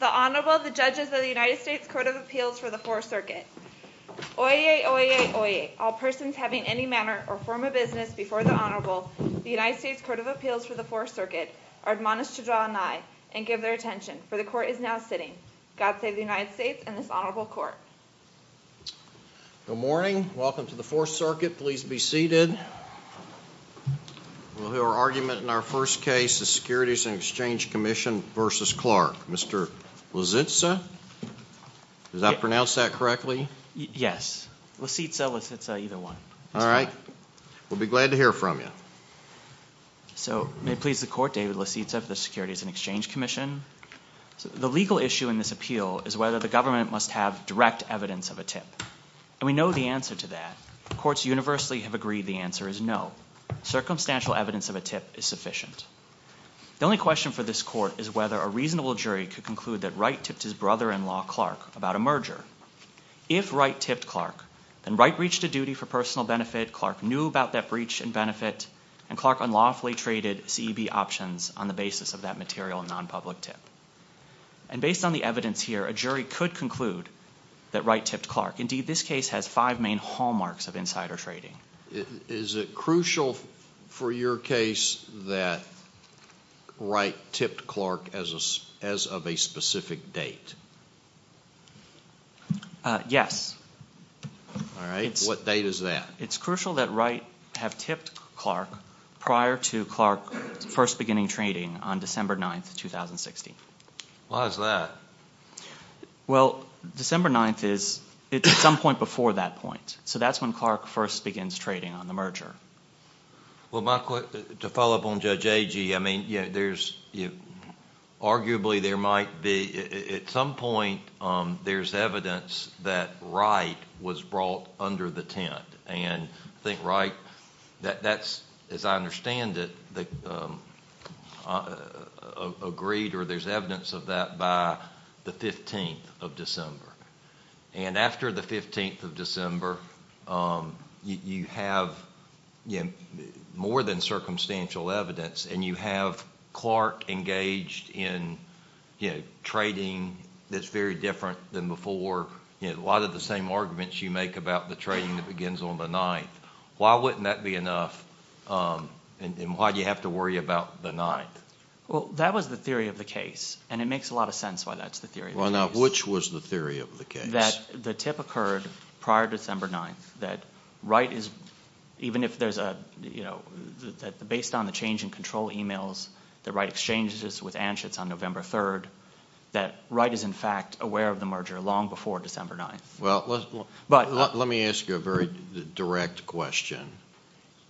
The Honorable, the Judges of the United States Court of Appeals for the Fourth Circuit. Oyez, oyez, oyez, all persons having any manner or form of business before the Honorable, the United States Court of Appeals for the Fourth Circuit, are admonished to draw an eye and give their attention, for the Court is now sitting. God save the United States and this Honorable Court. Good morning. Welcome to the Fourth Circuit. Please be seated. We'll hear our argument in our first case, the Securities and Exchange Commission v. Clark. Mr. Lisitsa? Did I pronounce that correctly? Yes. Lisitsa, Lisitsa, either one. All right. We'll be glad to hear from you. So, may it please the Court, David Lisitsa of the Securities and Exchange Commission. The legal issue in this appeal is whether the government must have direct evidence of a tip. And we know the answer to that. Courts universally have agreed the answer is no. Circumstantial evidence of a tip is sufficient. The only question for this Court is whether a reasonable jury could conclude that Wright tipped his brother-in-law, Clark, about a merger. If Wright tipped Clark, then Wright breached a duty for personal benefit, Clark knew about that breach in benefit, and Clark unlawfully traded CEB options on the basis of that material non-public tip. And based on the evidence here, a jury could conclude that Wright tipped Clark. Indeed, this case has five main hallmarks of insider trading. Is it crucial for your case that Wright tipped Clark as of a specific date? Yes. All right. What date is that? It's crucial that Wright have tipped Clark prior to Clark first beginning trading on December 9th, 2016. Why is that? Well, December 9th is at some point before that point. So that's when Clark first begins trading on the merger. To follow up on Judge Agee, I mean, there's arguably there might be at some point there's evidence that Wright was brought under the tent. And I think Wright, as I understand it, agreed or there's evidence of that by the 15th of December. And after the 15th of December, you have more than circumstantial evidence, and you have Clark engaged in trading that's very different than before. A lot of the same arguments you make about the trading that begins on the 9th. Why wouldn't that be enough, and why do you have to worry about the 9th? Well, that was the theory of the case, and it makes a lot of sense why that's the theory of the case. Well, now, which was the theory of the case? That the tip occurred prior to December 9th, that Wright is, even if there's a, you know, based on the change in control emails that Wright exchanges with Anschutz on November 3rd, that Wright is in fact aware of the merger long before December 9th. Well, let me ask you a very direct question.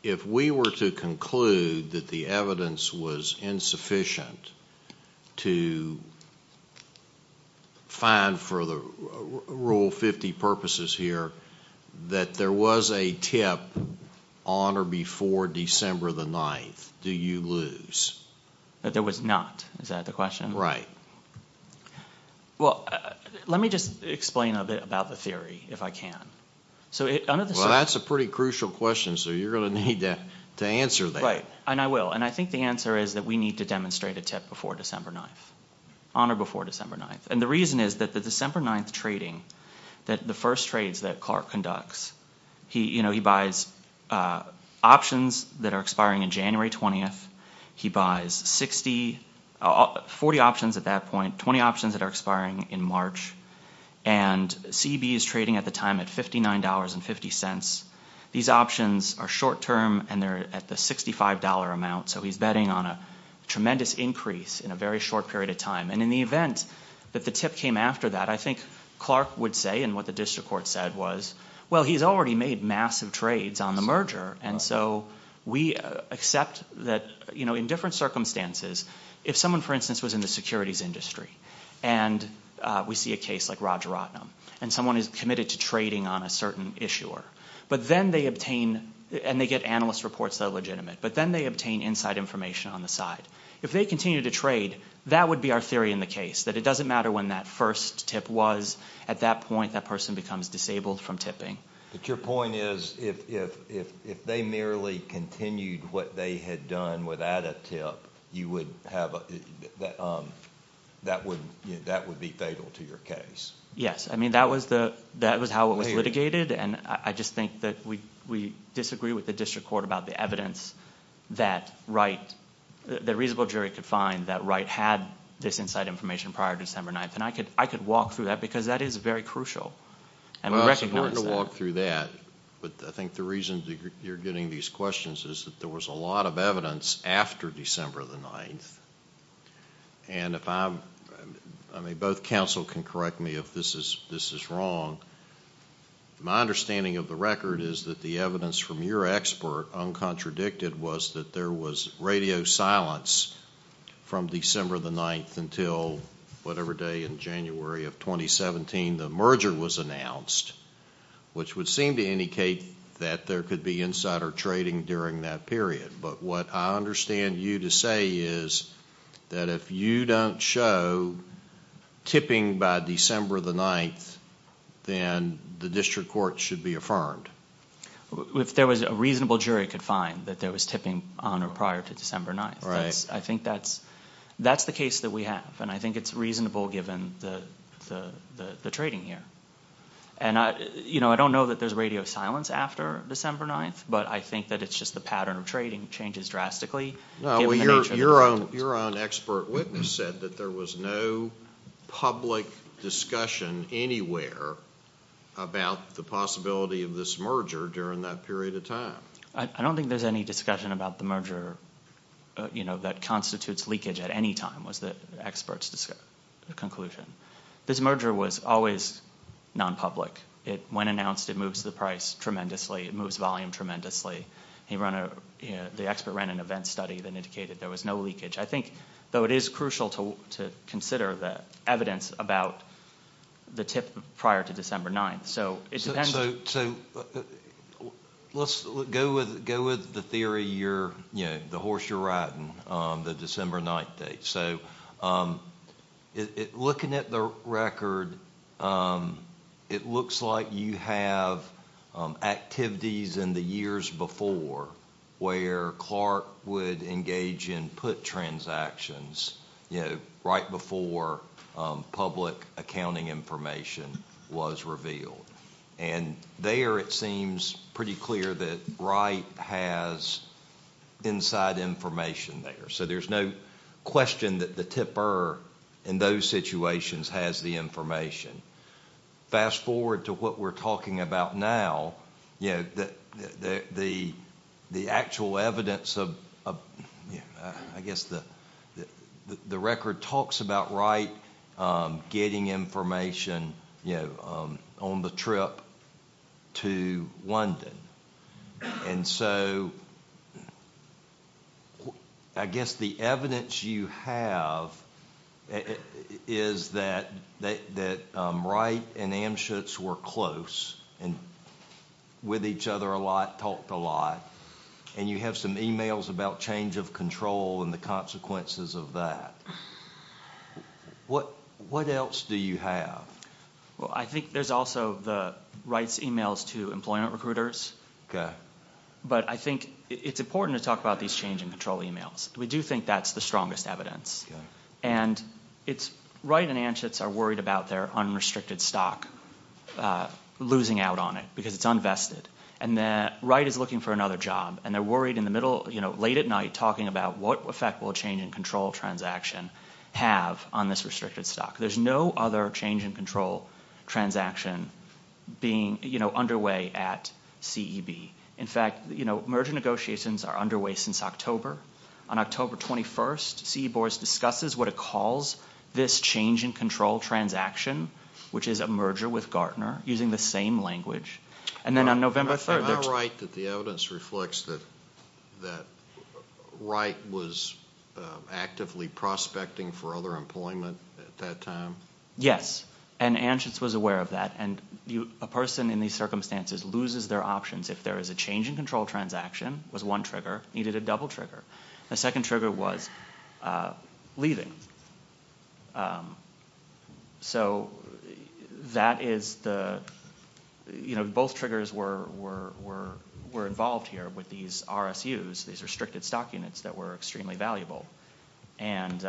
If we were to conclude that the evidence was insufficient to find for Rule 50 purposes here that there was a tip on or before December 9th, do you lose? That there was not. Is that the question? Right. Well, let me just explain a bit about the theory, if I can. Well, that's a pretty crucial question, so you're going to need to answer that. Right, and I will, and I think the answer is that we need to demonstrate a tip before December 9th, on or before December 9th. And the reason is that the December 9th trading, the first trades that Clark conducts, he buys options that are expiring on January 20th. He buys 40 options at that point, 20 options that are expiring in March, and CB is trading at the time at $59.50. These options are short-term, and they're at the $65 amount, so he's betting on a tremendous increase in a very short period of time. And in the event that the tip came after that, I think Clark would say, and what the district court said was, well, he's already made massive trades on the merger, and so we accept that in different circumstances, if someone, for instance, was in the securities industry and we see a case like Roger Rotnam, and someone is committed to trading on a certain issuer, but then they obtain, and they get analyst reports that are legitimate, but then they obtain inside information on the side. If they continue to trade, that would be our theory in the case, that it doesn't matter when that first tip was. At that point, that person becomes disabled from tipping. But your point is, if they merely continued what they had done without a tip, you would have... that would be fatal to your case. Yes. I mean, that was how it was litigated, and I just think that we disagree with the district court about the evidence that Wright, the reasonable jury could find, that Wright had this inside information prior to December 9th. And I could walk through that, because that is very crucial. Well, it's important to walk through that, but I think the reason you're getting these questions is that there was a lot of evidence after December 9th. And if I'm... I mean, both counsel can correct me if this is wrong. My understanding of the record is that the evidence from your expert, uncontradicted, was that there was radio silence from December 9th until whatever day in January of 2017 the merger was announced, which would seem to indicate that there could be insider trading during that period. But what I understand you to say is that if you don't show tipping by December 9th, then the district court should be affirmed. If there was a reasonable jury could find that there was tipping on or prior to December 9th. Right. I think that's the case that we have, and I think it's reasonable given the trading here. I don't know that there's radio silence after December 9th, but I think that it's just the pattern of trading changes drastically. Your own expert witness said that there was no public discussion anywhere about the possibility of this merger during that period of time. I don't think there's any discussion about the merger that constitutes leakage at any time, was the expert's conclusion. This merger was always nonpublic. When announced, it moves the price tremendously. It moves volume tremendously. The expert ran an event study that indicated there was no leakage. I think, though it is crucial to consider the evidence about the tip prior to December 9th. So let's go with the theory, the horse you're riding, the December 9th date. Looking at the record, it looks like you have activities in the years before where Clark would engage in put transactions right before public accounting information was revealed. There it seems pretty clear that Wright has inside information there. So there's no question that the tipper in those situations has the information. Fast forward to what we're talking about now, the actual evidence of, I guess, the record talks about Wright getting information on the trip to London. So I guess the evidence you have is that Wright and Amschutz were close and with each other a lot, talked a lot, and you have some emails about change of control and the consequences of that. What else do you have? I think there's also Wright's emails to employment recruiters. But I think it's important to talk about these change in control emails. We do think that's the strongest evidence. Wright and Amschutz are worried about their unrestricted stock losing out on it because it's unvested. Wright is looking for another job, and they're worried late at night talking about what effect will a change in control transaction have on this restricted stock. There's no other change in control transaction being underway at CEB. In fact, merger negotiations are underway since October. On October 21st, CE boards discusses what it calls this change in control transaction, which is a merger with Gartner, using the same language. And then on November 3rd, there's- Is it correct that the evidence reflects that Wright was actively prospecting for other employment at that time? Yes, and Amschutz was aware of that. A person in these circumstances loses their options if there is a change in control transaction, was one trigger, needed a double trigger. The second trigger was leaving. So that is the- You know, both triggers were involved here with these RSUs, these restricted stock units that were extremely valuable. And,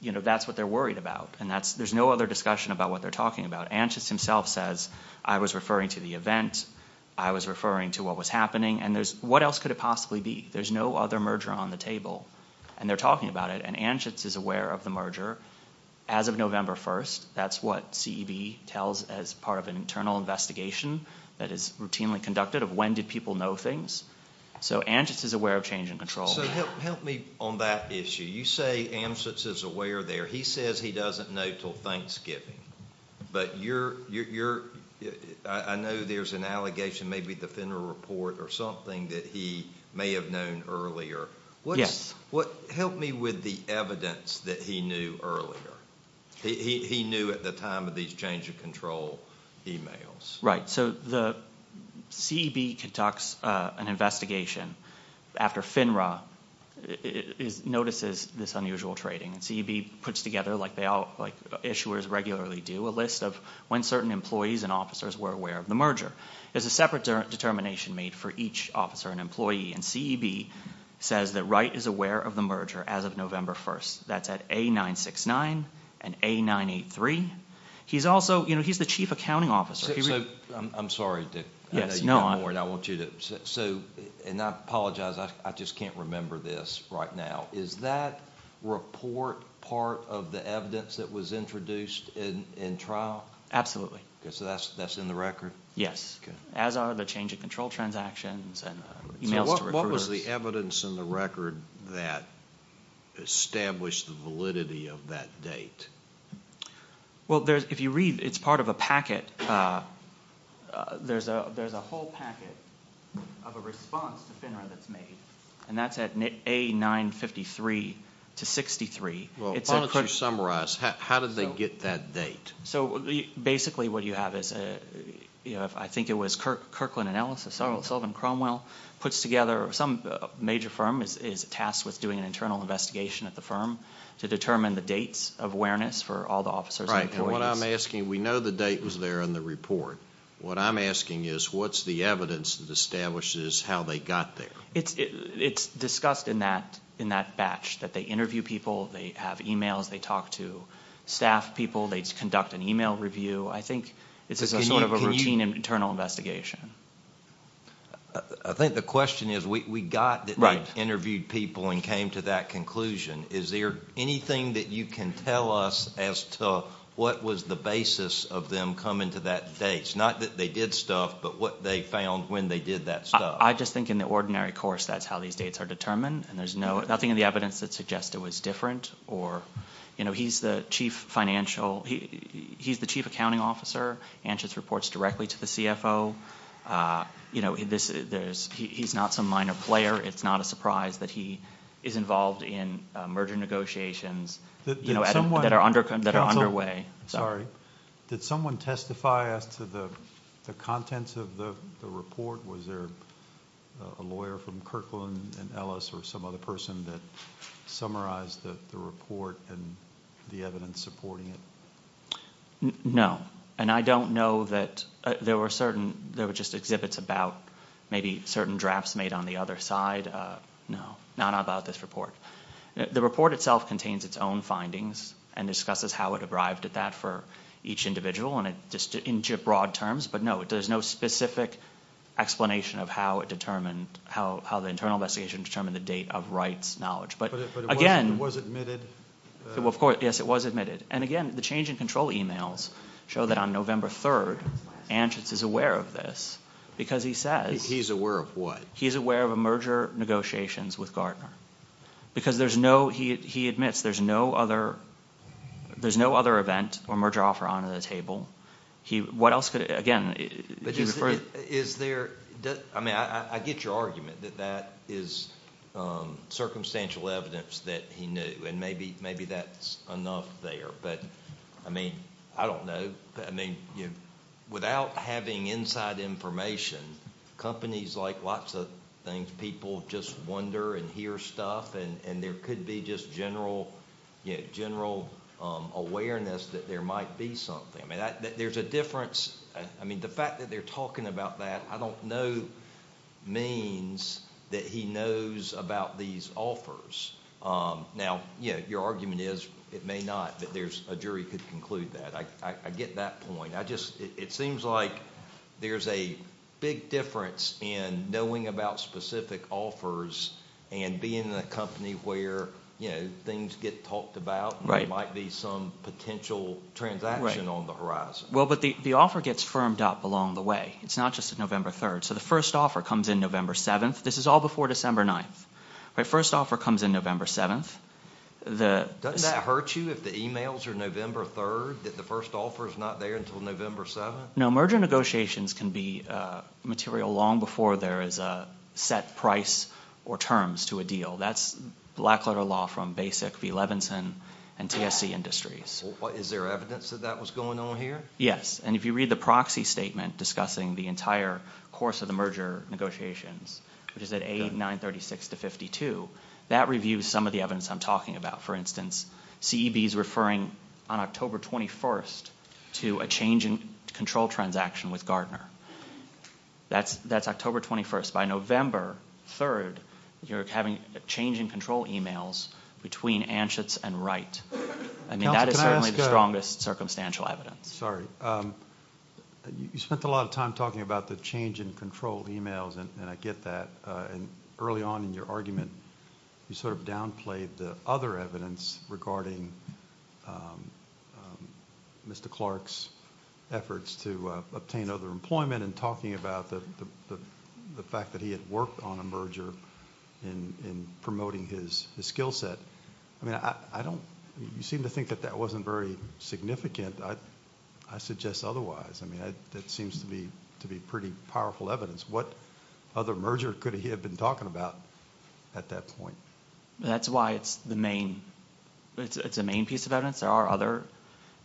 you know, that's what they're worried about. And there's no other discussion about what they're talking about. Amschutz himself says, I was referring to the event. I was referring to what was happening. And what else could it possibly be? There's no other merger on the table, and they're talking about it. And Amschutz is aware of the merger. As of November 1st, that's what CEB tells as part of an internal investigation that is routinely conducted of when did people know things. So Amschutz is aware of change in control. So help me on that issue. You say Amschutz is aware there. He says he doesn't know until Thanksgiving. But you're-I know there's an allegation, maybe the Fenner Report or something, that he may have known earlier. Yes. Help me with the evidence that he knew earlier. He knew at the time of these change of control emails. Right. So the CEB conducts an investigation after FINRA notices this unusual trading. And CEB puts together, like issuers regularly do, a list of when certain employees and officers were aware of the merger. There's a separate determination made for each officer and employee. And CEB says that Wright is aware of the merger as of November 1st. That's at A969 and A983. He's also-you know, he's the chief accounting officer. I'm sorry, Dick. Yes, no. I want you to-and I apologize, I just can't remember this right now. Is that report part of the evidence that was introduced in trial? Absolutely. So that's in the record? Yes. Okay. As are the change of control transactions and emails to recruiters. So what was the evidence in the record that established the validity of that date? Well, if you read, it's part of a packet. There's a whole packet of a response to FINRA that's made, and that's at A953 to 63. Well, why don't you summarize. How did they get that date? So basically what you have is-I think it was Kirkland and Ellis, or Sullivan and Cromwell puts together some major firm is tasked with doing an internal investigation at the firm to determine the dates of awareness for all the officers and employees. Right, and what I'm asking-we know the date was there in the report. What I'm asking is what's the evidence that establishes how they got there? It's discussed in that batch, that they interview people, they have emails, they talk to staff people, they conduct an email review. I think it's sort of a routine internal investigation. I think the question is we got that they interviewed people and came to that conclusion. Is there anything that you can tell us as to what was the basis of them coming to that date? It's not that they did stuff, but what they found when they did that stuff. I just think in the ordinary course that's how these dates are determined, and there's nothing in the evidence that suggests it was different. He's the chief accounting officer, answers reports directly to the CFO. He's not some minor player. It's not a surprise that he is involved in merger negotiations that are underway. Sorry, did someone testify as to the contents of the report? Was there a lawyer from Kirkland and Ellis or some other person that summarized the report and the evidence supporting it? No, and I don't know that there were certain, there were just exhibits about maybe certain drafts made on the other side. No, not about this report. The report itself contains its own findings and discusses how it arrived at that for each individual in broad terms. But no, there's no specific explanation of how the internal investigation determined the date of Wright's knowledge. But it was admitted? Of course, yes, it was admitted. And again, the change in control emails show that on November 3rd, Anschutz is aware of this because he says. He's aware of what? He's aware of merger negotiations with Gardner because there's no, he admits there's no other event or merger offer on the table. What else could, again? Is there, I mean I get your argument that that is circumstantial evidence that he knew and maybe that's enough there. But, I mean, I don't know. Without having inside information, companies like lots of things, people just wonder and hear stuff and there could be just general awareness that there might be something. I mean, there's a difference. I mean, the fact that they're talking about that, I don't know means that he knows about these offers. Now, your argument is it may not, but a jury could conclude that. I get that point. It seems like there's a big difference in knowing about specific offers and being in a company where things get talked about and there might be some potential transaction on the horizon. Well, but the offer gets firmed up along the way. It's not just on November 3rd. So the first offer comes in November 7th. This is all before December 9th. The first offer comes in November 7th. Doesn't that hurt you if the emails are November 3rd, that the first offer is not there until November 7th? No. Merger negotiations can be material long before there is a set price or terms to a deal. That's black-letter law from Basic v. Levinson and TSC Industries. Is there evidence that that was going on here? Yes, and if you read the proxy statement discussing the entire course of the merger negotiations, which is at A936-52, that reviews some of the evidence I'm talking about. For instance, CEB is referring on October 21st to a change in control transaction with Gardner. That's October 21st. By November 3rd, you're having change in control emails between Anschutz and Wright. I mean, that is certainly the strongest circumstantial evidence. Sorry. You spent a lot of time talking about the change in control emails, and I get that. Early on in your argument, you sort of downplayed the other evidence regarding Mr. Clark's efforts to obtain other employment and talking about the fact that he had worked on a merger in promoting his skill set. I mean, you seem to think that that wasn't very significant. I suggest otherwise. I mean, that seems to be pretty powerful evidence. What other merger could he have been talking about at that point? That's why it's the main piece of evidence. There are other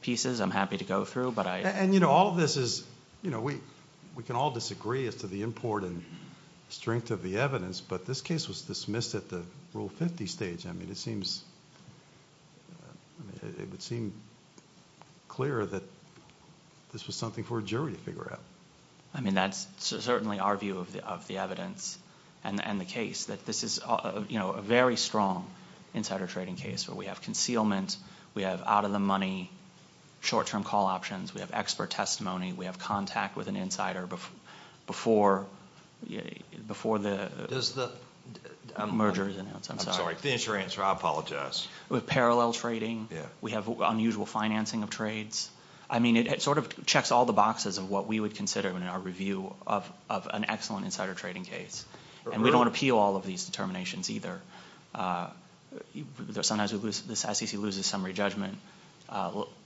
pieces I'm happy to go through, but I... And, you know, all of this is... We can all disagree as to the import and strength of the evidence, but this case was dismissed at the Rule 50 stage. I mean, it would seem clear that this was something for a jury to figure out. I mean, that's certainly our view of the evidence and the case, that this is a very strong insider trading case where we have concealment, we have out-of-the-money, short-term call options, we have expert testimony, we have contact with an insider before the merger is announced. I'm sorry, finish your answer. I apologize. We have parallel trading. We have unusual financing of trades. I mean, it sort of checks all the boxes of what we would consider in our review of an excellent insider trading case. And we don't appeal all of these determinations either. Sometimes this SEC loses summary judgment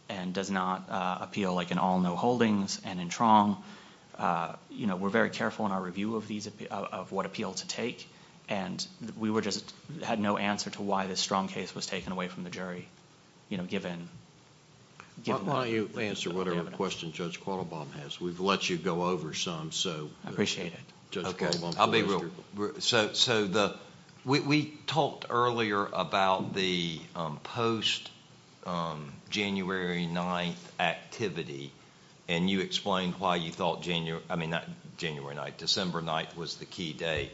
and does not appeal like in all no holdings and in Trong. You know, we're very careful in our review of what appeal to take, and we just had no answer to why this strong case was taken away from the jury, you know, given... Why don't you answer whatever question Judge Quattlebaum has. We've let you go over some, so... I appreciate it. Judge Quattlebaum, please. Okay, I'll be real. So, we talked earlier about the post-January 9th activity, and you explained why you thought January... I mean, not January 9th. December 9th was the key date.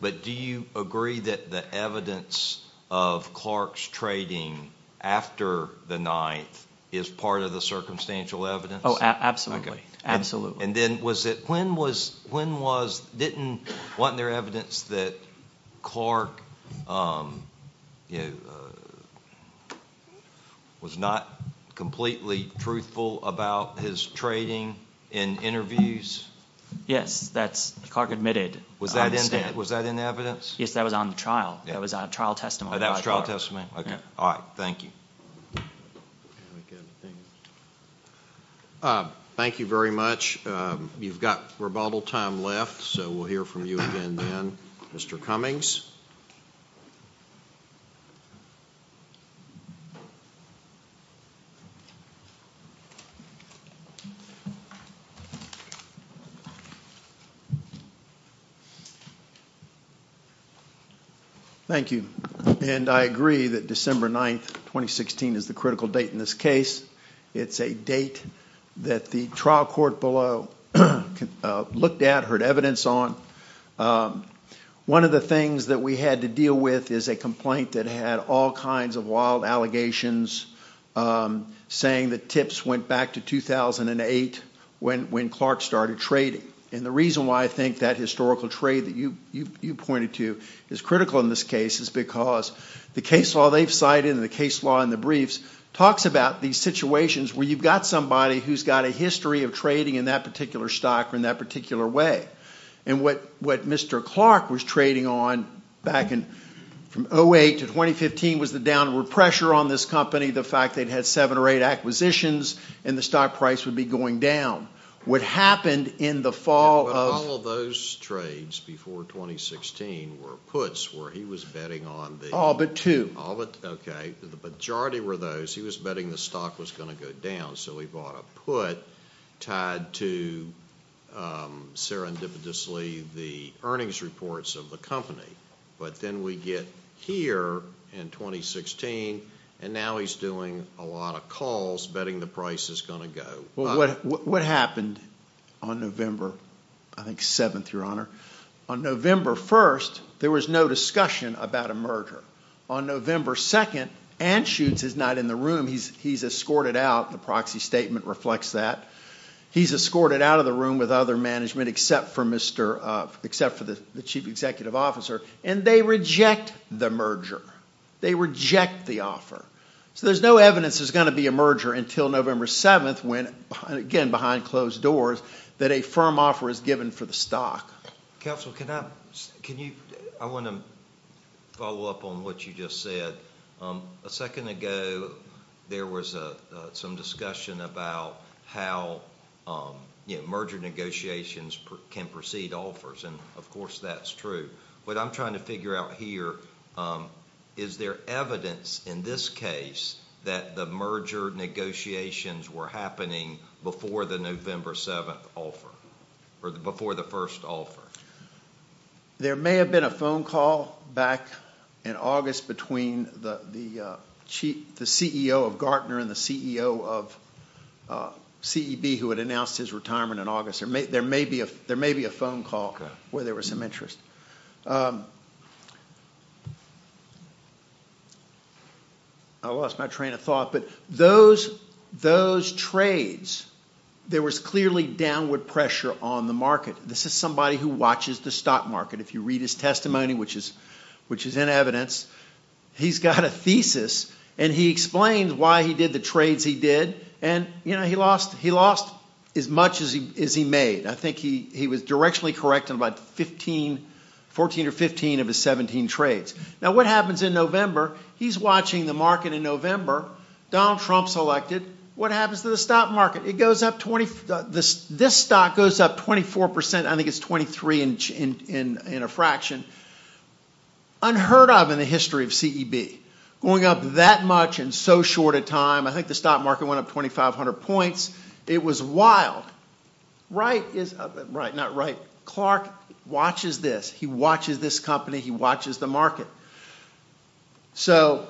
But do you agree that the evidence of Clark's trading after the 9th is part of the circumstantial evidence? Oh, absolutely. Absolutely. And then was it... When was... didn't... wasn't there evidence that Clark, you know, was not completely truthful about his trading in interviews? Yes, that's... Clark admitted... Was that in evidence? Yes, that was on the trial. That was on a trial testimony. Oh, that was trial testimony? Okay. All right. Thank you. Thank you very much. You've got rebuttal time left, so we'll hear from you again then. Mr. Cummings. Thank you. And I agree that December 9th, 2016, is the critical date in this case. It's a date that the trial court below looked at, heard evidence on. One of the things that we had to deal with is a complaint that had all kinds of wild allegations saying that tips went back to 2008 when Clark started trading. And the reason why I think that historical trade that you pointed to is critical in this case is because the case law they've cited and the case law in the briefs talks about these situations where you've got somebody who's got a history of trading in that particular stock or in that particular way. And what Mr. Clark was trading on back in 2008 to 2015 was the downward pressure on this company, the fact they'd had seven or eight acquisitions and the stock price would be going down. What happened in the fall of... But all of those trades before 2016 were puts where he was betting on the... All but two. Okay. The majority were those. He was betting the stock was going to go down, so he bought a put tied to, serendipitously, the earnings reports of the company. But then we get here in 2016, and now he's doing a lot of calls betting the price is going to go. What happened on November, I think, 7th, Your Honor? On November 1st, there was no discussion about a merger. On November 2nd, Anschutz is not in the room. He's escorted out. The proxy statement reflects that. He's escorted out of the room with other management except for the chief executive officer, and they reject the merger. They reject the offer. So there's no evidence there's going to be a merger until November 7th when, again, behind closed doors, that a firm offer is given for the stock. Counsel, can you... I want to follow up on what you just said. A second ago, there was some discussion about how merger negotiations can precede offers, and, of course, that's true. What I'm trying to figure out here, is there evidence in this case that the merger negotiations were happening before the November 7th offer, or before the first offer? There may have been a phone call back in August between the CEO of Gartner and the CEO of CEB who had announced his retirement in August. There may be a phone call where there was some interest. I lost my train of thought, but those trades, there was clearly downward pressure on the market. This is somebody who watches the stock market. If you read his testimony, which is in evidence, he's got a thesis, and he explains why he did the trades he did, and he lost as much as he made. I think he was directionally correct on about 14 or 15 of his 17 trades. Now, what happens in November? He's watching the market in November. Donald Trump's elected. What happens to the stock market? This stock goes up 24%. I think it's 23% in a fraction. Unheard of in the history of CEB. Going up that much in so short a time. I think the stock market went up 2,500 points. It was wild. Clark watches this. He watches this company. He watches the market. So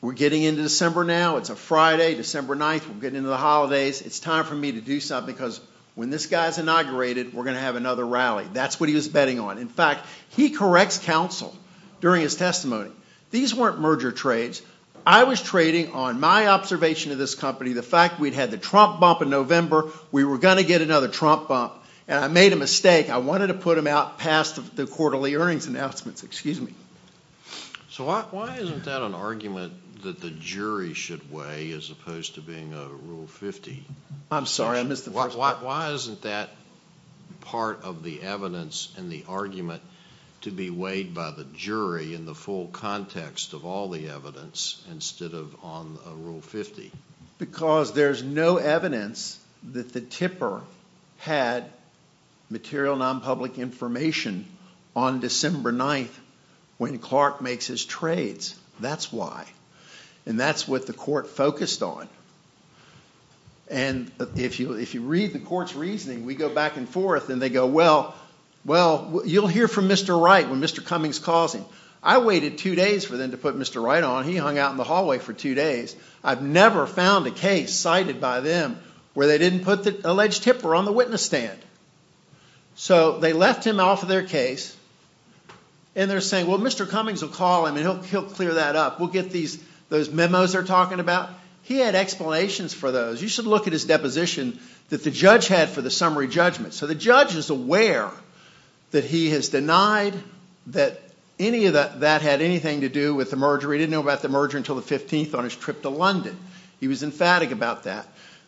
we're getting into December now. It's a Friday, December 9th. We're getting into the holidays. It's time for me to do something because when this guy's inaugurated, we're going to have another rally. That's what he was betting on. In fact, he corrects counsel during his testimony. These weren't merger trades. I was trading on my observation of this company, the fact we'd had the Trump bump in November, we were going to get another Trump bump, and I made a mistake. I wanted to put him out past the quarterly earnings announcements. Excuse me. So why isn't that an argument that the jury should weigh as opposed to being a Rule 50? I'm sorry, I missed the first part. Why isn't that part of the evidence and the argument to be weighed by the jury in the full context of all the evidence instead of on Rule 50? Because there's no evidence that the tipper had material nonpublic information on December 9th when Clark makes his trades. That's why. And that's what the court focused on. And if you read the court's reasoning, we go back and forth, and they go, well, you'll hear from Mr. Wright when Mr. Cummings calls him. I waited two days for them to put Mr. Wright on. He hung out in the hallway for two days. I've never found a case cited by them where they didn't put the alleged tipper on the witness stand. So they left him off of their case, and they're saying, well, Mr. Cummings will call him, and he'll clear that up. We'll get those memos they're talking about. He had explanations for those. You should look at his deposition that the judge had for the summary judgment. So the judge is aware that he has denied that any of that had anything to do with the merger. He didn't know about the merger until the 15th on his trip to London. He was emphatic about that.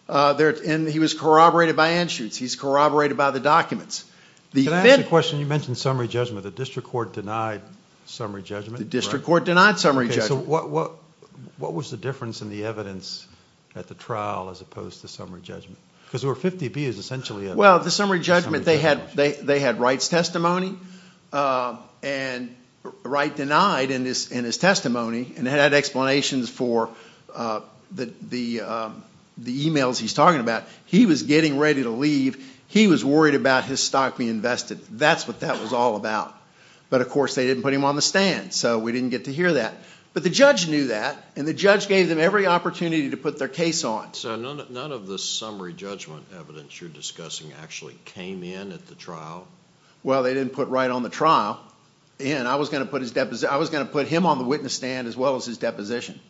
And he was corroborated by Anschutz. He's corroborated by the documents. Can I ask a question? You mentioned summary judgment. The district court denied summary judgment. The district court denied summary judgment. So what was the difference in the evidence at the trial as opposed to summary judgment? Because there were 50 views, essentially. Well, the summary judgment, they had Wright's testimony. And Wright denied in his testimony and had explanations for the emails he's talking about. He was getting ready to leave. He was worried about his stock being invested. That's what that was all about. But, of course, they didn't put him on the stand, so we didn't get to hear that. But the judge knew that, and the judge gave them every opportunity to put their case on. So none of the summary judgment evidence you're discussing actually came in at the trial? Well, they didn't put Wright on the trial. And I was going to put him on the witness stand as well as his deposition.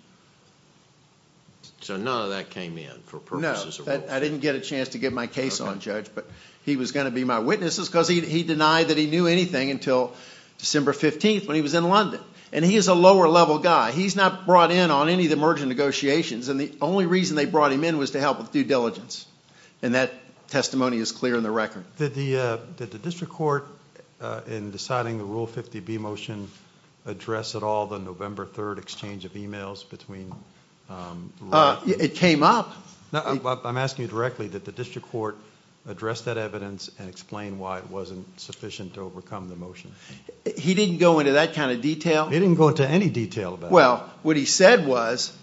So none of that came in for purposes of rule change? No, I didn't get a chance to get my case on, Judge. But he was going to be my witness because he denied that he knew anything until December 15th when he was in London. And he is a lower-level guy. He's not brought in on any of the merger negotiations, and the only reason they brought him in was to help with due diligence. And that testimony is clear in the record. Did the district court, in deciding the Rule 50B motion, address at all the November 3rd exchange of emails between Wright? It came up. I'm asking you directly, did the district court address that evidence and explain why it wasn't sufficient to overcome the motion? He didn't go into that kind of detail? He didn't go into any detail about it. Well, what he said was,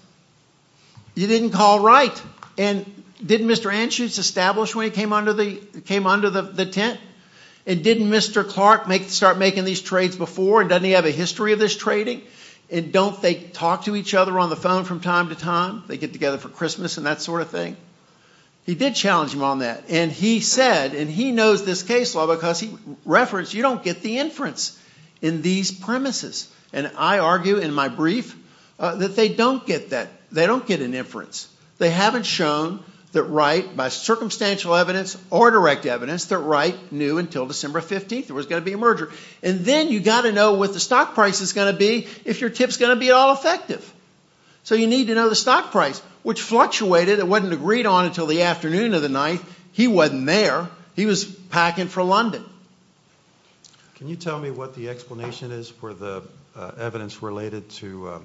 you didn't call Wright. And didn't Mr. Anschutz establish when he came under the tent? And didn't Mr. Clark start making these trades before? Doesn't he have a history of this trading? And don't they talk to each other on the phone from time to time? They get together for Christmas and that sort of thing? He did challenge him on that. And he said, and he knows this case law because he referenced, you don't get the inference in these premises. And I argue in my brief that they don't get that. They don't get an inference. They haven't shown that Wright, by circumstantial evidence or direct evidence, that Wright knew until December 15th there was going to be a merger. And then you've got to know what the stock price is going to be if your tip's going to be all effective. So you need to know the stock price, which fluctuated and wasn't agreed on until the afternoon of the 9th. He wasn't there. He was packing for London. Can you tell me what the explanation is for the evidence related to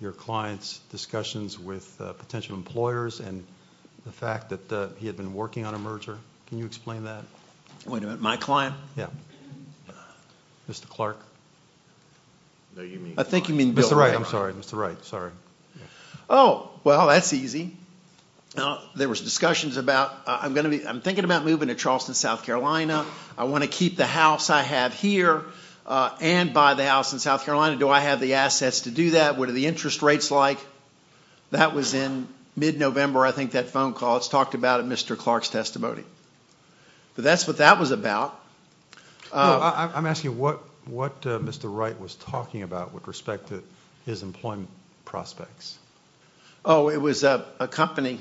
your client's discussions with potential employers and the fact that he had been working on a merger? Can you explain that? Wait a minute, my client? Yeah. Mr. Clark? I think you mean Bill Wright. Mr. Wright, I'm sorry. Oh, well, that's easy. There was discussions about, I'm thinking about moving to Charleston, South Carolina. I want to keep the house I have here and buy the house in South Carolina. Do I have the assets to do that? What are the interest rates like? That was in mid-November, I think, that phone call. It's talked about in Mr. Clark's testimony. But that's what that was about. I'm asking what Mr. Wright was talking about with respect to his employment prospects. Oh, it was a company,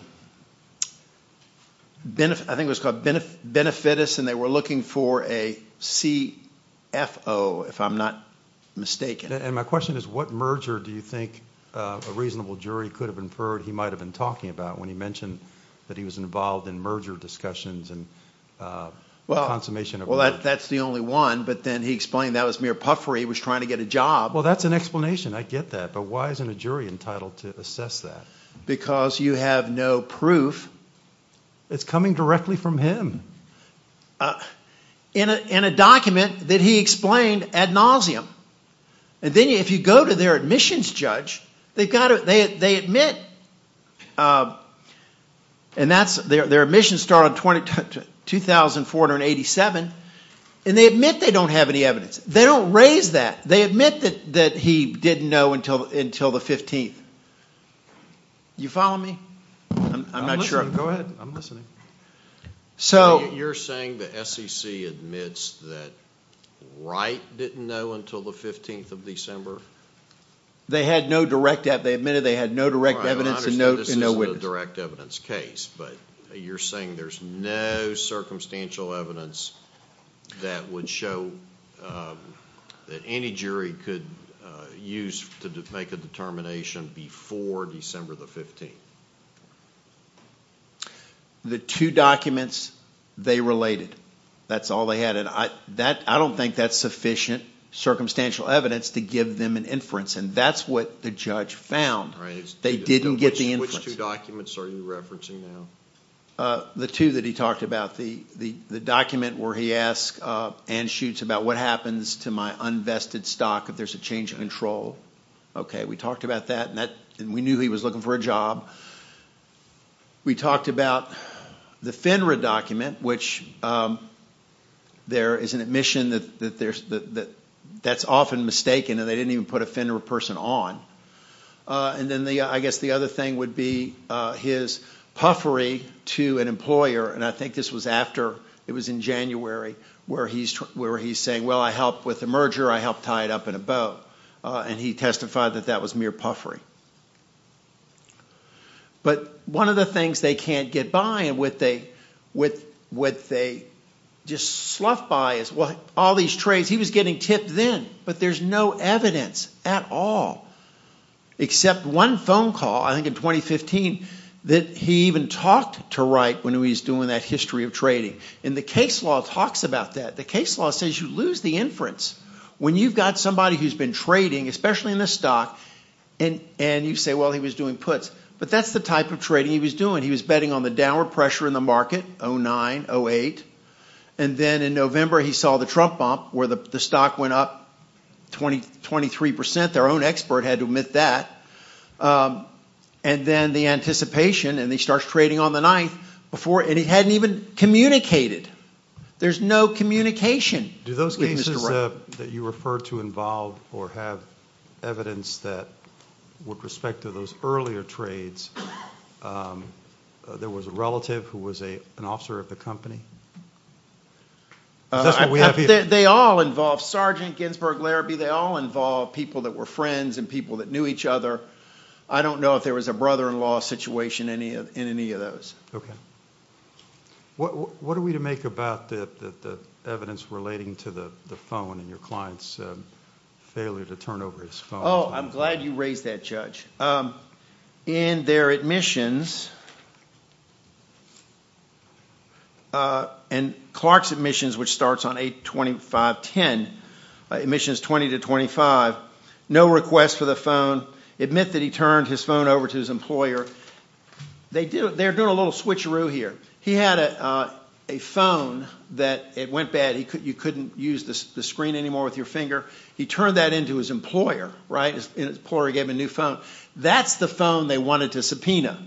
I think it was called Benefitus, and they were looking for a CFO, if I'm not mistaken. And my question is, what merger do you think a reasonable jury could have inferred he might have been talking about when he mentioned that he was involved in merger discussions and consummation of work? Well, that's the only one. But then he explained that was mere puffery. He was trying to get a job. Well, that's an explanation. I get that. But why isn't a jury entitled to assess that? Because you have no proof. It's coming directly from him. In a document that he explained ad nauseum. And then if you go to their admissions judge, they admit, and their admissions start on 2487, and they admit they don't have any evidence. They don't raise that. They admit that he didn't know until the 15th. You following me? I'm not sure. Go ahead. I'm listening. So you're saying the SEC admits that Wright didn't know until the 15th of December? They had no direct evidence. They admitted they had no direct evidence and no witness. I understand this isn't a direct evidence case, but you're saying there's no circumstantial evidence that would show that any jury could use to make a determination before December the 15th. The two documents, they related. That's all they had. And I don't think that's sufficient circumstantial evidence to give them an inference, and that's what the judge found. They didn't get the inference. Which two documents are you referencing now? The two that he talked about. The document where he asks Ann Schuetz about what happens to my unvested stock if there's a change in control. Okay, we talked about that, and we knew he was looking for a job. We talked about the FINRA document, which there is an admission that that's often mistaken, and they didn't even put a FINRA person on. And then I guess the other thing would be his puffery to an employer, and I think this was after, it was in January, where he's saying, well, I helped with the merger, I helped tie it up in a bow, and he testified that that was mere puffery. But one of the things they can't get by, and what they just slough by is all these trades. He was getting tipped then, but there's no evidence at all, except one phone call, I think in 2015, that he even talked to Wright when he was doing that history of trading. And the case law talks about that. The case law says you lose the inference when you've got somebody who's been trading, especially in this stock, and you say, well, he was doing puts. But that's the type of trading he was doing. He was betting on the downward pressure in the market, 0.9, 0.8. And then in November, he saw the Trump bump, where the stock went up 23%. Their own expert had to admit that. And then the anticipation, and he starts trading on the 9th, and he hadn't even communicated. There's no communication with Mr. Wright. Do those cases that you refer to involve or have evidence that, with respect to those earlier trades, there was a relative who was an officer of the company? They all involve Sergeant Ginsberg Larrabee. They all involve people that were friends and people that knew each other. I don't know if there was a brother-in-law situation in any of those. Okay. What are we to make about the evidence relating to the phone and your client's failure to turn over his phone? Oh, I'm glad you raised that, Judge. In their admissions, and Clark's admissions, which starts on 8-25-10, admissions 20-25, no request for the phone. Admit that he turned his phone over to his employer. They're doing a little switcheroo here. He had a phone that went bad. You couldn't use the screen anymore with your finger. He turned that into his employer, right? His employer gave him a new phone. That's the phone they wanted to subpoena.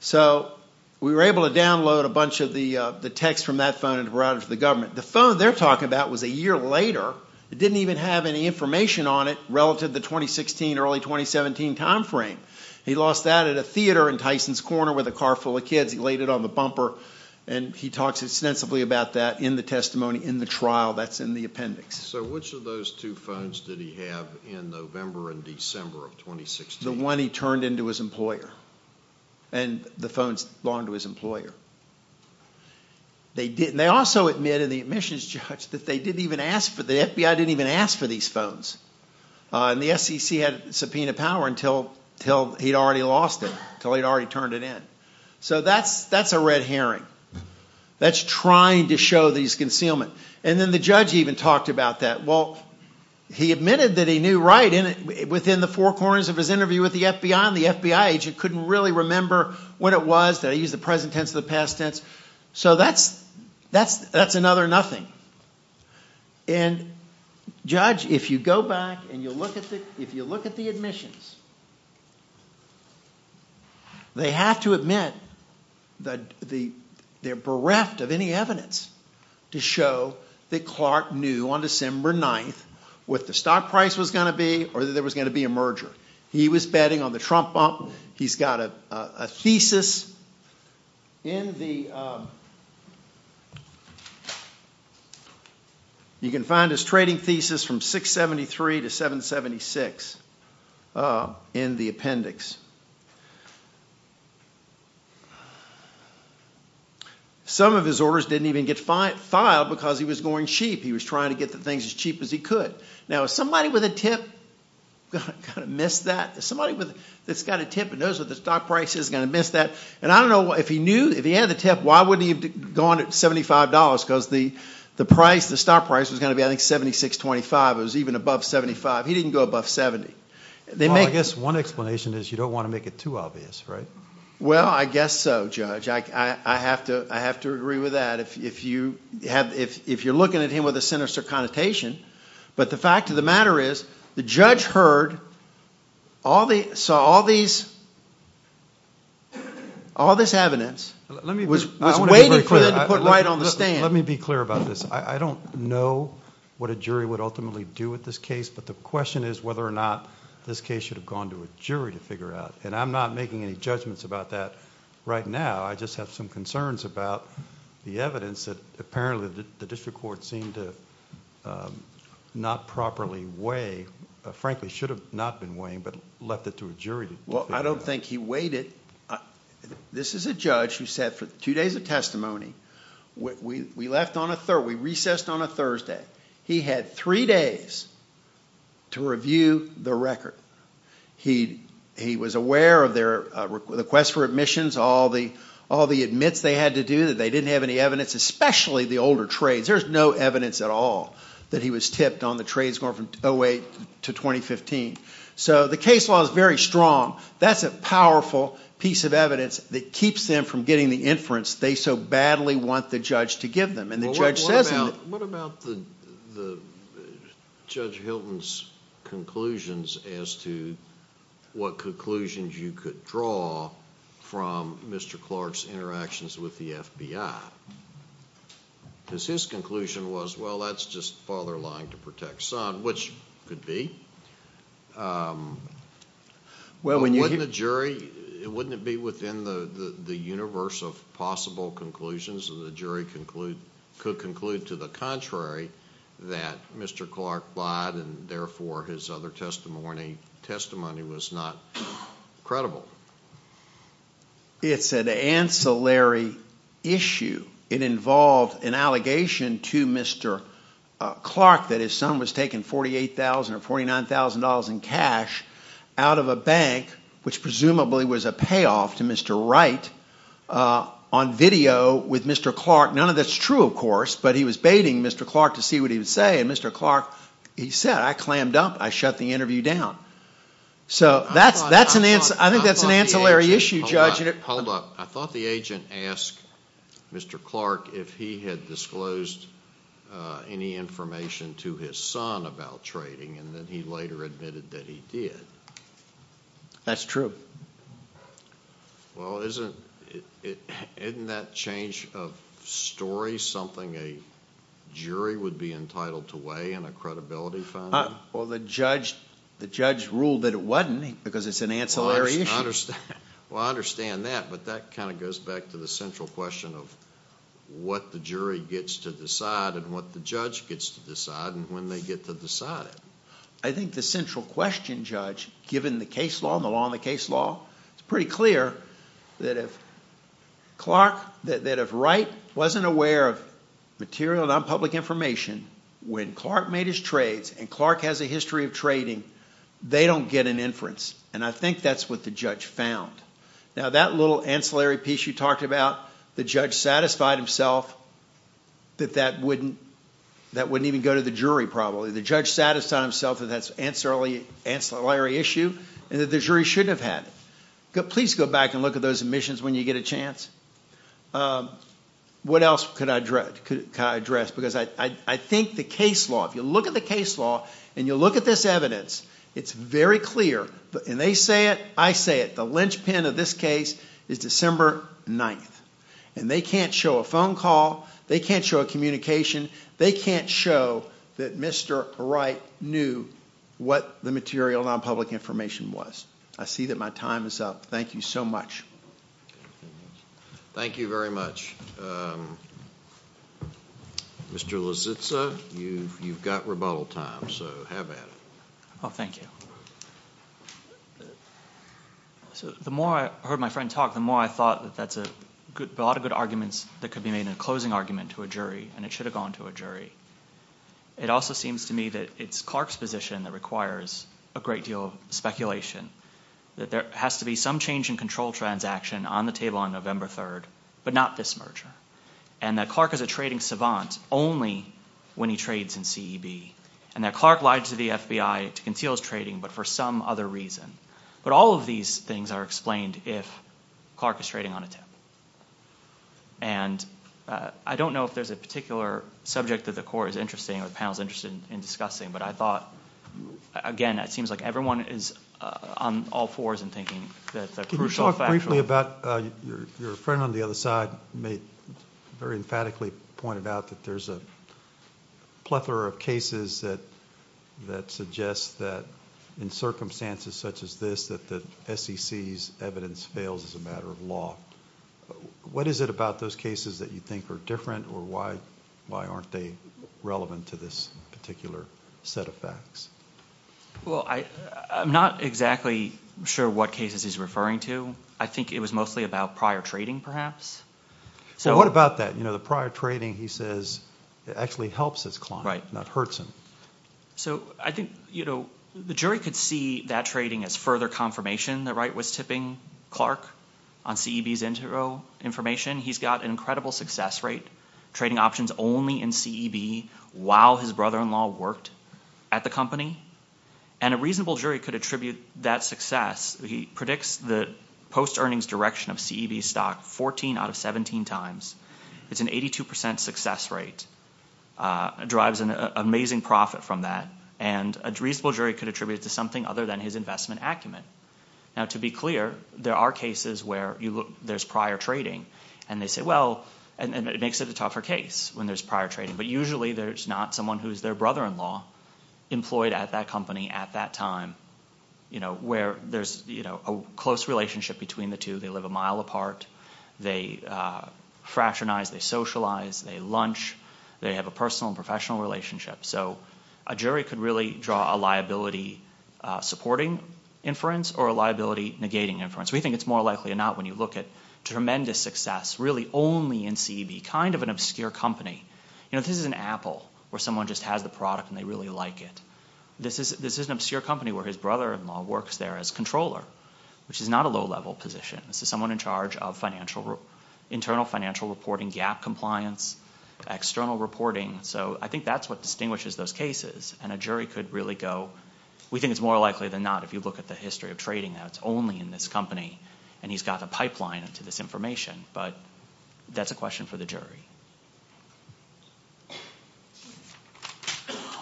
So we were able to download a bunch of the text from that phone and provide it to the government. The phone they're talking about was a year later. It didn't even have any information on it relative to the 2016, early 2017 time frame. He lost that at a theater in Tyson's Corner with a car full of kids. He laid it on the bumper, and he talks extensively about that in the testimony, in the trial. That's in the appendix. So which of those two phones did he have in November and December of 2016? The one he turned into his employer, and the phones belonged to his employer. They also admit in the admissions judge that the FBI didn't even ask for these phones. And the SEC had subpoena power until he'd already lost it, until he'd already turned it in. So that's a red herring. That's trying to show that he's concealment. And then the judge even talked about that. Well, he admitted that he knew right within the four corners of his interview with the FBI, and the FBI agent couldn't really remember what it was. They used the present tense or the past tense. So that's another nothing. And, judge, if you go back and you look at the admissions, they have to admit that they're bereft of any evidence to show that Clark knew on December 9th what the stock price was going to be or that there was going to be a merger. He was betting on the Trump bump. He's got a thesis in the... You can find his trading thesis from 673 to 776 in the appendix. Some of his orders didn't even get filed because he was going cheap. He was trying to get the things as cheap as he could. Now, is somebody with a tip going to miss that? Is somebody that's got a tip and knows what the stock price is going to miss that? And I don't know, if he knew, if he had the tip, why wouldn't he have gone at $75? Because the stock price was going to be, I think, 76.25. It was even above 75. He didn't go above 70. Well, I guess one explanation is you don't want to make it too obvious, right? Well, I guess so, judge. I have to agree with that. If you're looking at him with a sinister connotation. But the fact of the matter is the judge heard all these... saw all these... all this evidence, was waiting for them to put right on the stand. Let me be clear about this. I don't know what a jury would ultimately do with this case, but the question is whether or not this case should have gone to a jury to figure out. And I'm not making any judgments about that right now. I just have some concerns about the evidence that apparently the district court seemed to not properly weigh, frankly should have not been weighing, but left it to a jury to figure out. Well, I don't think he weighed it. This is a judge who sat for two days of testimony. We left on a Thursday. We recessed on a Thursday. He had three days to review the record. He was aware of their request for admissions, all the admits they had to do, they didn't have any evidence, especially the older trades. There's no evidence at all that he was tipped on the trades going from 2008 to 2015. So the case law is very strong. That's a powerful piece of evidence that keeps them from getting the inference they so badly want the judge to give them. And the judge says in the... What about the Judge Hilton's conclusions as to what conclusions you could draw from Mr. Clark's interactions with the FBI? Because his conclusion was, well, that's just father lying to protect son, which could be. But wouldn't a jury, wouldn't it be within the universe of possible conclusions that the jury could conclude to the contrary that Mr. Clark lied and therefore his other testimony was not credible? It's an ancillary issue. It involved an allegation to Mr. Clark that his son was taking $48,000 or $49,000 in cash out of a bank, which presumably was a payoff to Mr. Wright, on video with Mr. Clark. None of that's true, of course, but he was baiting Mr. Clark to see what he would say. And Mr. Clark, he said, I clammed up. I shut the interview down. So I think that's an ancillary issue, Judge. Hold up. I thought the agent asked Mr. Clark if he had disclosed any information to his son about trading, and then he later admitted that he did. That's true. Well, isn't that change of story something a jury would be entitled to weigh in a credibility finding? Well, the judge ruled that it wasn't because it's an ancillary issue. Well, I understand that, but that kind of goes back to the central question of what the jury gets to decide and what the judge gets to decide and when they get to decide it. I think the central question, Judge, given the case law and the law in the case law, it's pretty clear that if Clark, that if Wright wasn't aware of material nonpublic information, when Clark made his trades and Clark has a history of trading, they don't get an inference. And I think that's what the judge found. Now, that little ancillary piece you talked about, the judge satisfied himself that that wouldn't even go to the jury, probably. The judge satisfied himself that that's an ancillary issue and that the jury shouldn't have had it. Please go back and look at those admissions when you get a chance. What else could I address? Because I think the case law, if you look at the case law and you look at this evidence, it's very clear, and they say it, I say it, the linchpin of this case is December 9th. And they can't show a phone call, they can't show a communication, they can't show that Mr Wright knew what the material nonpublic information was. I see that my time is up. Thank you so much. Thank you very much. Mr Lozitsa, you've got rebuttal time, so have at it. Oh, thank you. The more I heard my friend talk, the more I thought that that's a lot of good arguments that could be made in a closing argument to a jury, and it should have gone to a jury. It also seems to me that it's Clark's position that requires a great deal of speculation, that there has to be some change in control transaction on the table on November 3rd, but not this merger, and that Clark is a trading savant only when he trades in CEB, and that Clark lied to the FBI to conceal his trading, but for some other reason. But all of these things are explained if Clark is trading on a tip. And I don't know if there's a particular subject that the court is interested in, or the panel is interested in discussing, but I thought, again, it seems like everyone is on all fours in thinking that's a crucial fact. Can you talk briefly about... Your friend on the other side very emphatically pointed out that there's a plethora of cases that suggest that in circumstances such as this, that the SEC's evidence fails as a matter of law. What is it about those cases that you think are different, or why aren't they relevant to this particular set of facts? Well, I'm not exactly sure what cases he's referring to. I think it was mostly about prior trading, perhaps. Well, what about that? You know, the prior trading, he says, actually helps his client, not hurts him. So, I think, you know, the jury could see that trading as further confirmation that Wright was tipping Clark on CEB's intro information. He's got an incredible success rate, trading options only in CEB while his brother-in-law worked at the company. And a reasonable jury could attribute that success... He predicts the post-earnings direction of CEB stock 14 out of 17 times. It's an 82% success rate. Drives an amazing profit from that. And a reasonable jury could attribute it to something other than his investment acumen. Now, to be clear, there are cases where there's prior trading. And they say, well... And it makes it a tougher case when there's prior trading. But usually there's not someone who's their brother-in-law employed at that company at that time, you know, where there's, you know, a close relationship between the two. They live a mile apart. They fraternize, they socialize, they lunch. They have a personal and professional relationship. So a jury could really draw a liability supporting inference or a liability negating inference. We think it's more likely or not when you look at tremendous success really only in CEB, it would be kind of an obscure company. You know, this is an Apple where someone just has the product and they really like it. This is an obscure company where his brother-in-law works there as controller, which is not a low-level position. This is someone in charge of financial... internal financial reporting, gap compliance, external reporting. So I think that's what distinguishes those cases. And a jury could really go... We think it's more likely than not if you look at the history of trading, that it's only in this company and he's got the pipeline to this information. But that's a question for the jury.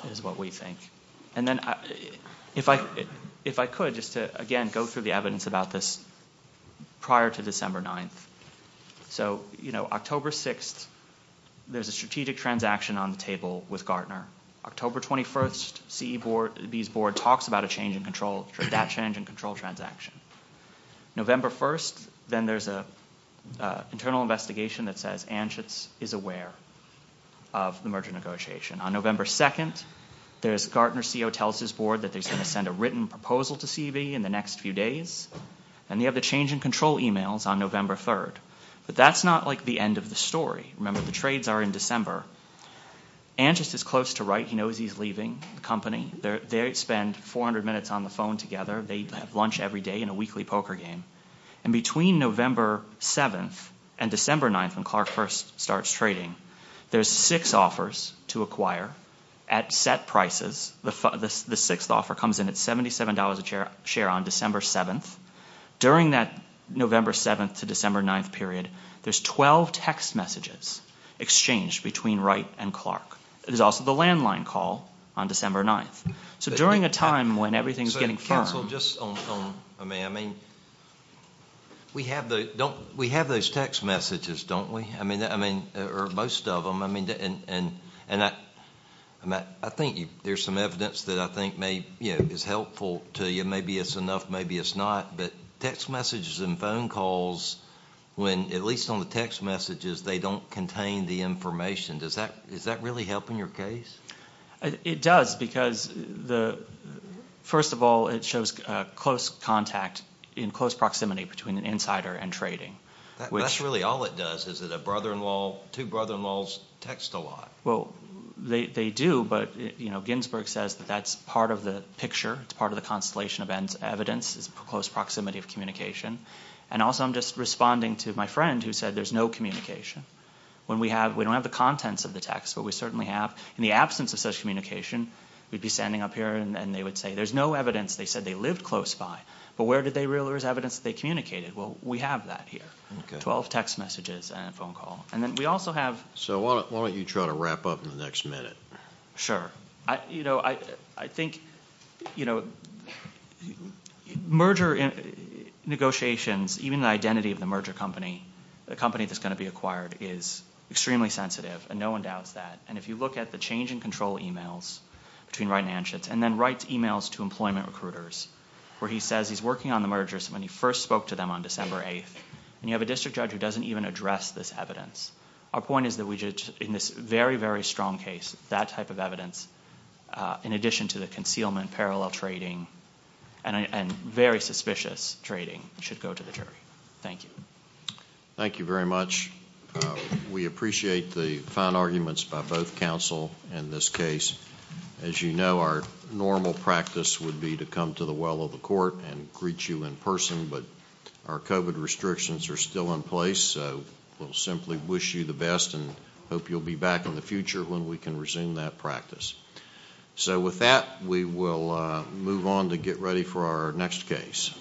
It is what we think. And then if I could just to, again, go through the evidence about this prior to December 9th. So, you know, October 6th, there's a strategic transaction on the table with Gartner. October 21st, CEB's board talks about a change in control, that change in control transaction. November 1st, then there's an internal investigation that says Anschutz is aware of the merger negotiation. On November 2nd, there's... Gartner's CEO tells his board that he's going to send a written proposal to CEB in the next few days. And they have the change in control emails on November 3rd. But that's not, like, the end of the story. Remember, the trades are in December. Anschutz is close to Wright. He knows he's leaving the company. They spend 400 minutes on the phone together. They have lunch every day in a weekly poker game. And between November 7th and December 9th, when Clark first starts trading, there's six offers to acquire at set prices. The sixth offer comes in at $77 a share on December 7th. During that November 7th to December 9th period, there's 12 text messages exchanged between Wright and Clark. There's also the landline call on December 9th. So during a time when everything's getting firm... So, counsel, just on... I mean, we have those text messages, don't we? I mean, or most of them. And I think there's some evidence that I think is helpful to you. Maybe it's enough, maybe it's not. But text messages and phone calls, when at least on the text messages, they don't contain the information, does that really help in your case? It does because, first of all, it shows close contact in close proximity between an insider and trading. That's really all it does, is that a brother-in-law, two brother-in-laws text a lot. Well, they do, but Ginsburg says that that's part of the picture, it's part of the constellation of evidence, is close proximity of communication. And also I'm just responding to my friend who said there's no communication. We don't have the contents of the text, but we certainly have. In the absence of such communication, we'd be standing up here and they would say, there's no evidence, they said they lived close by, but where is evidence that they communicated? Well, we have that here, 12 text messages and a phone call. And then we also have... So why don't you try to wrap up in the next minute? Sure. You know, I think, you know, merger negotiations, even the identity of the merger company, the company that's going to be acquired, is extremely sensitive, and no one doubts that. And if you look at the change in control emails between Wright and Anschutz, and then Wright's emails to employment recruiters, where he says he's working on the mergers when he first spoke to them on December 8th, and you have a district judge who doesn't even address this evidence. Our point is that we should, in this very, very strong case, that type of evidence, in addition to the concealment, parallel trading, and very suspicious trading, should go to the jury. Thank you. Thank you very much. We appreciate the fine arguments by both counsel in this case. As you know, our normal practice would be to come to the well of the court and greet you in person, but our COVID restrictions are still in place, so we'll simply wish you the best and hope you'll be back in the future when we can resume that practice. So with that, we will move on to get ready for our next case. Thank you.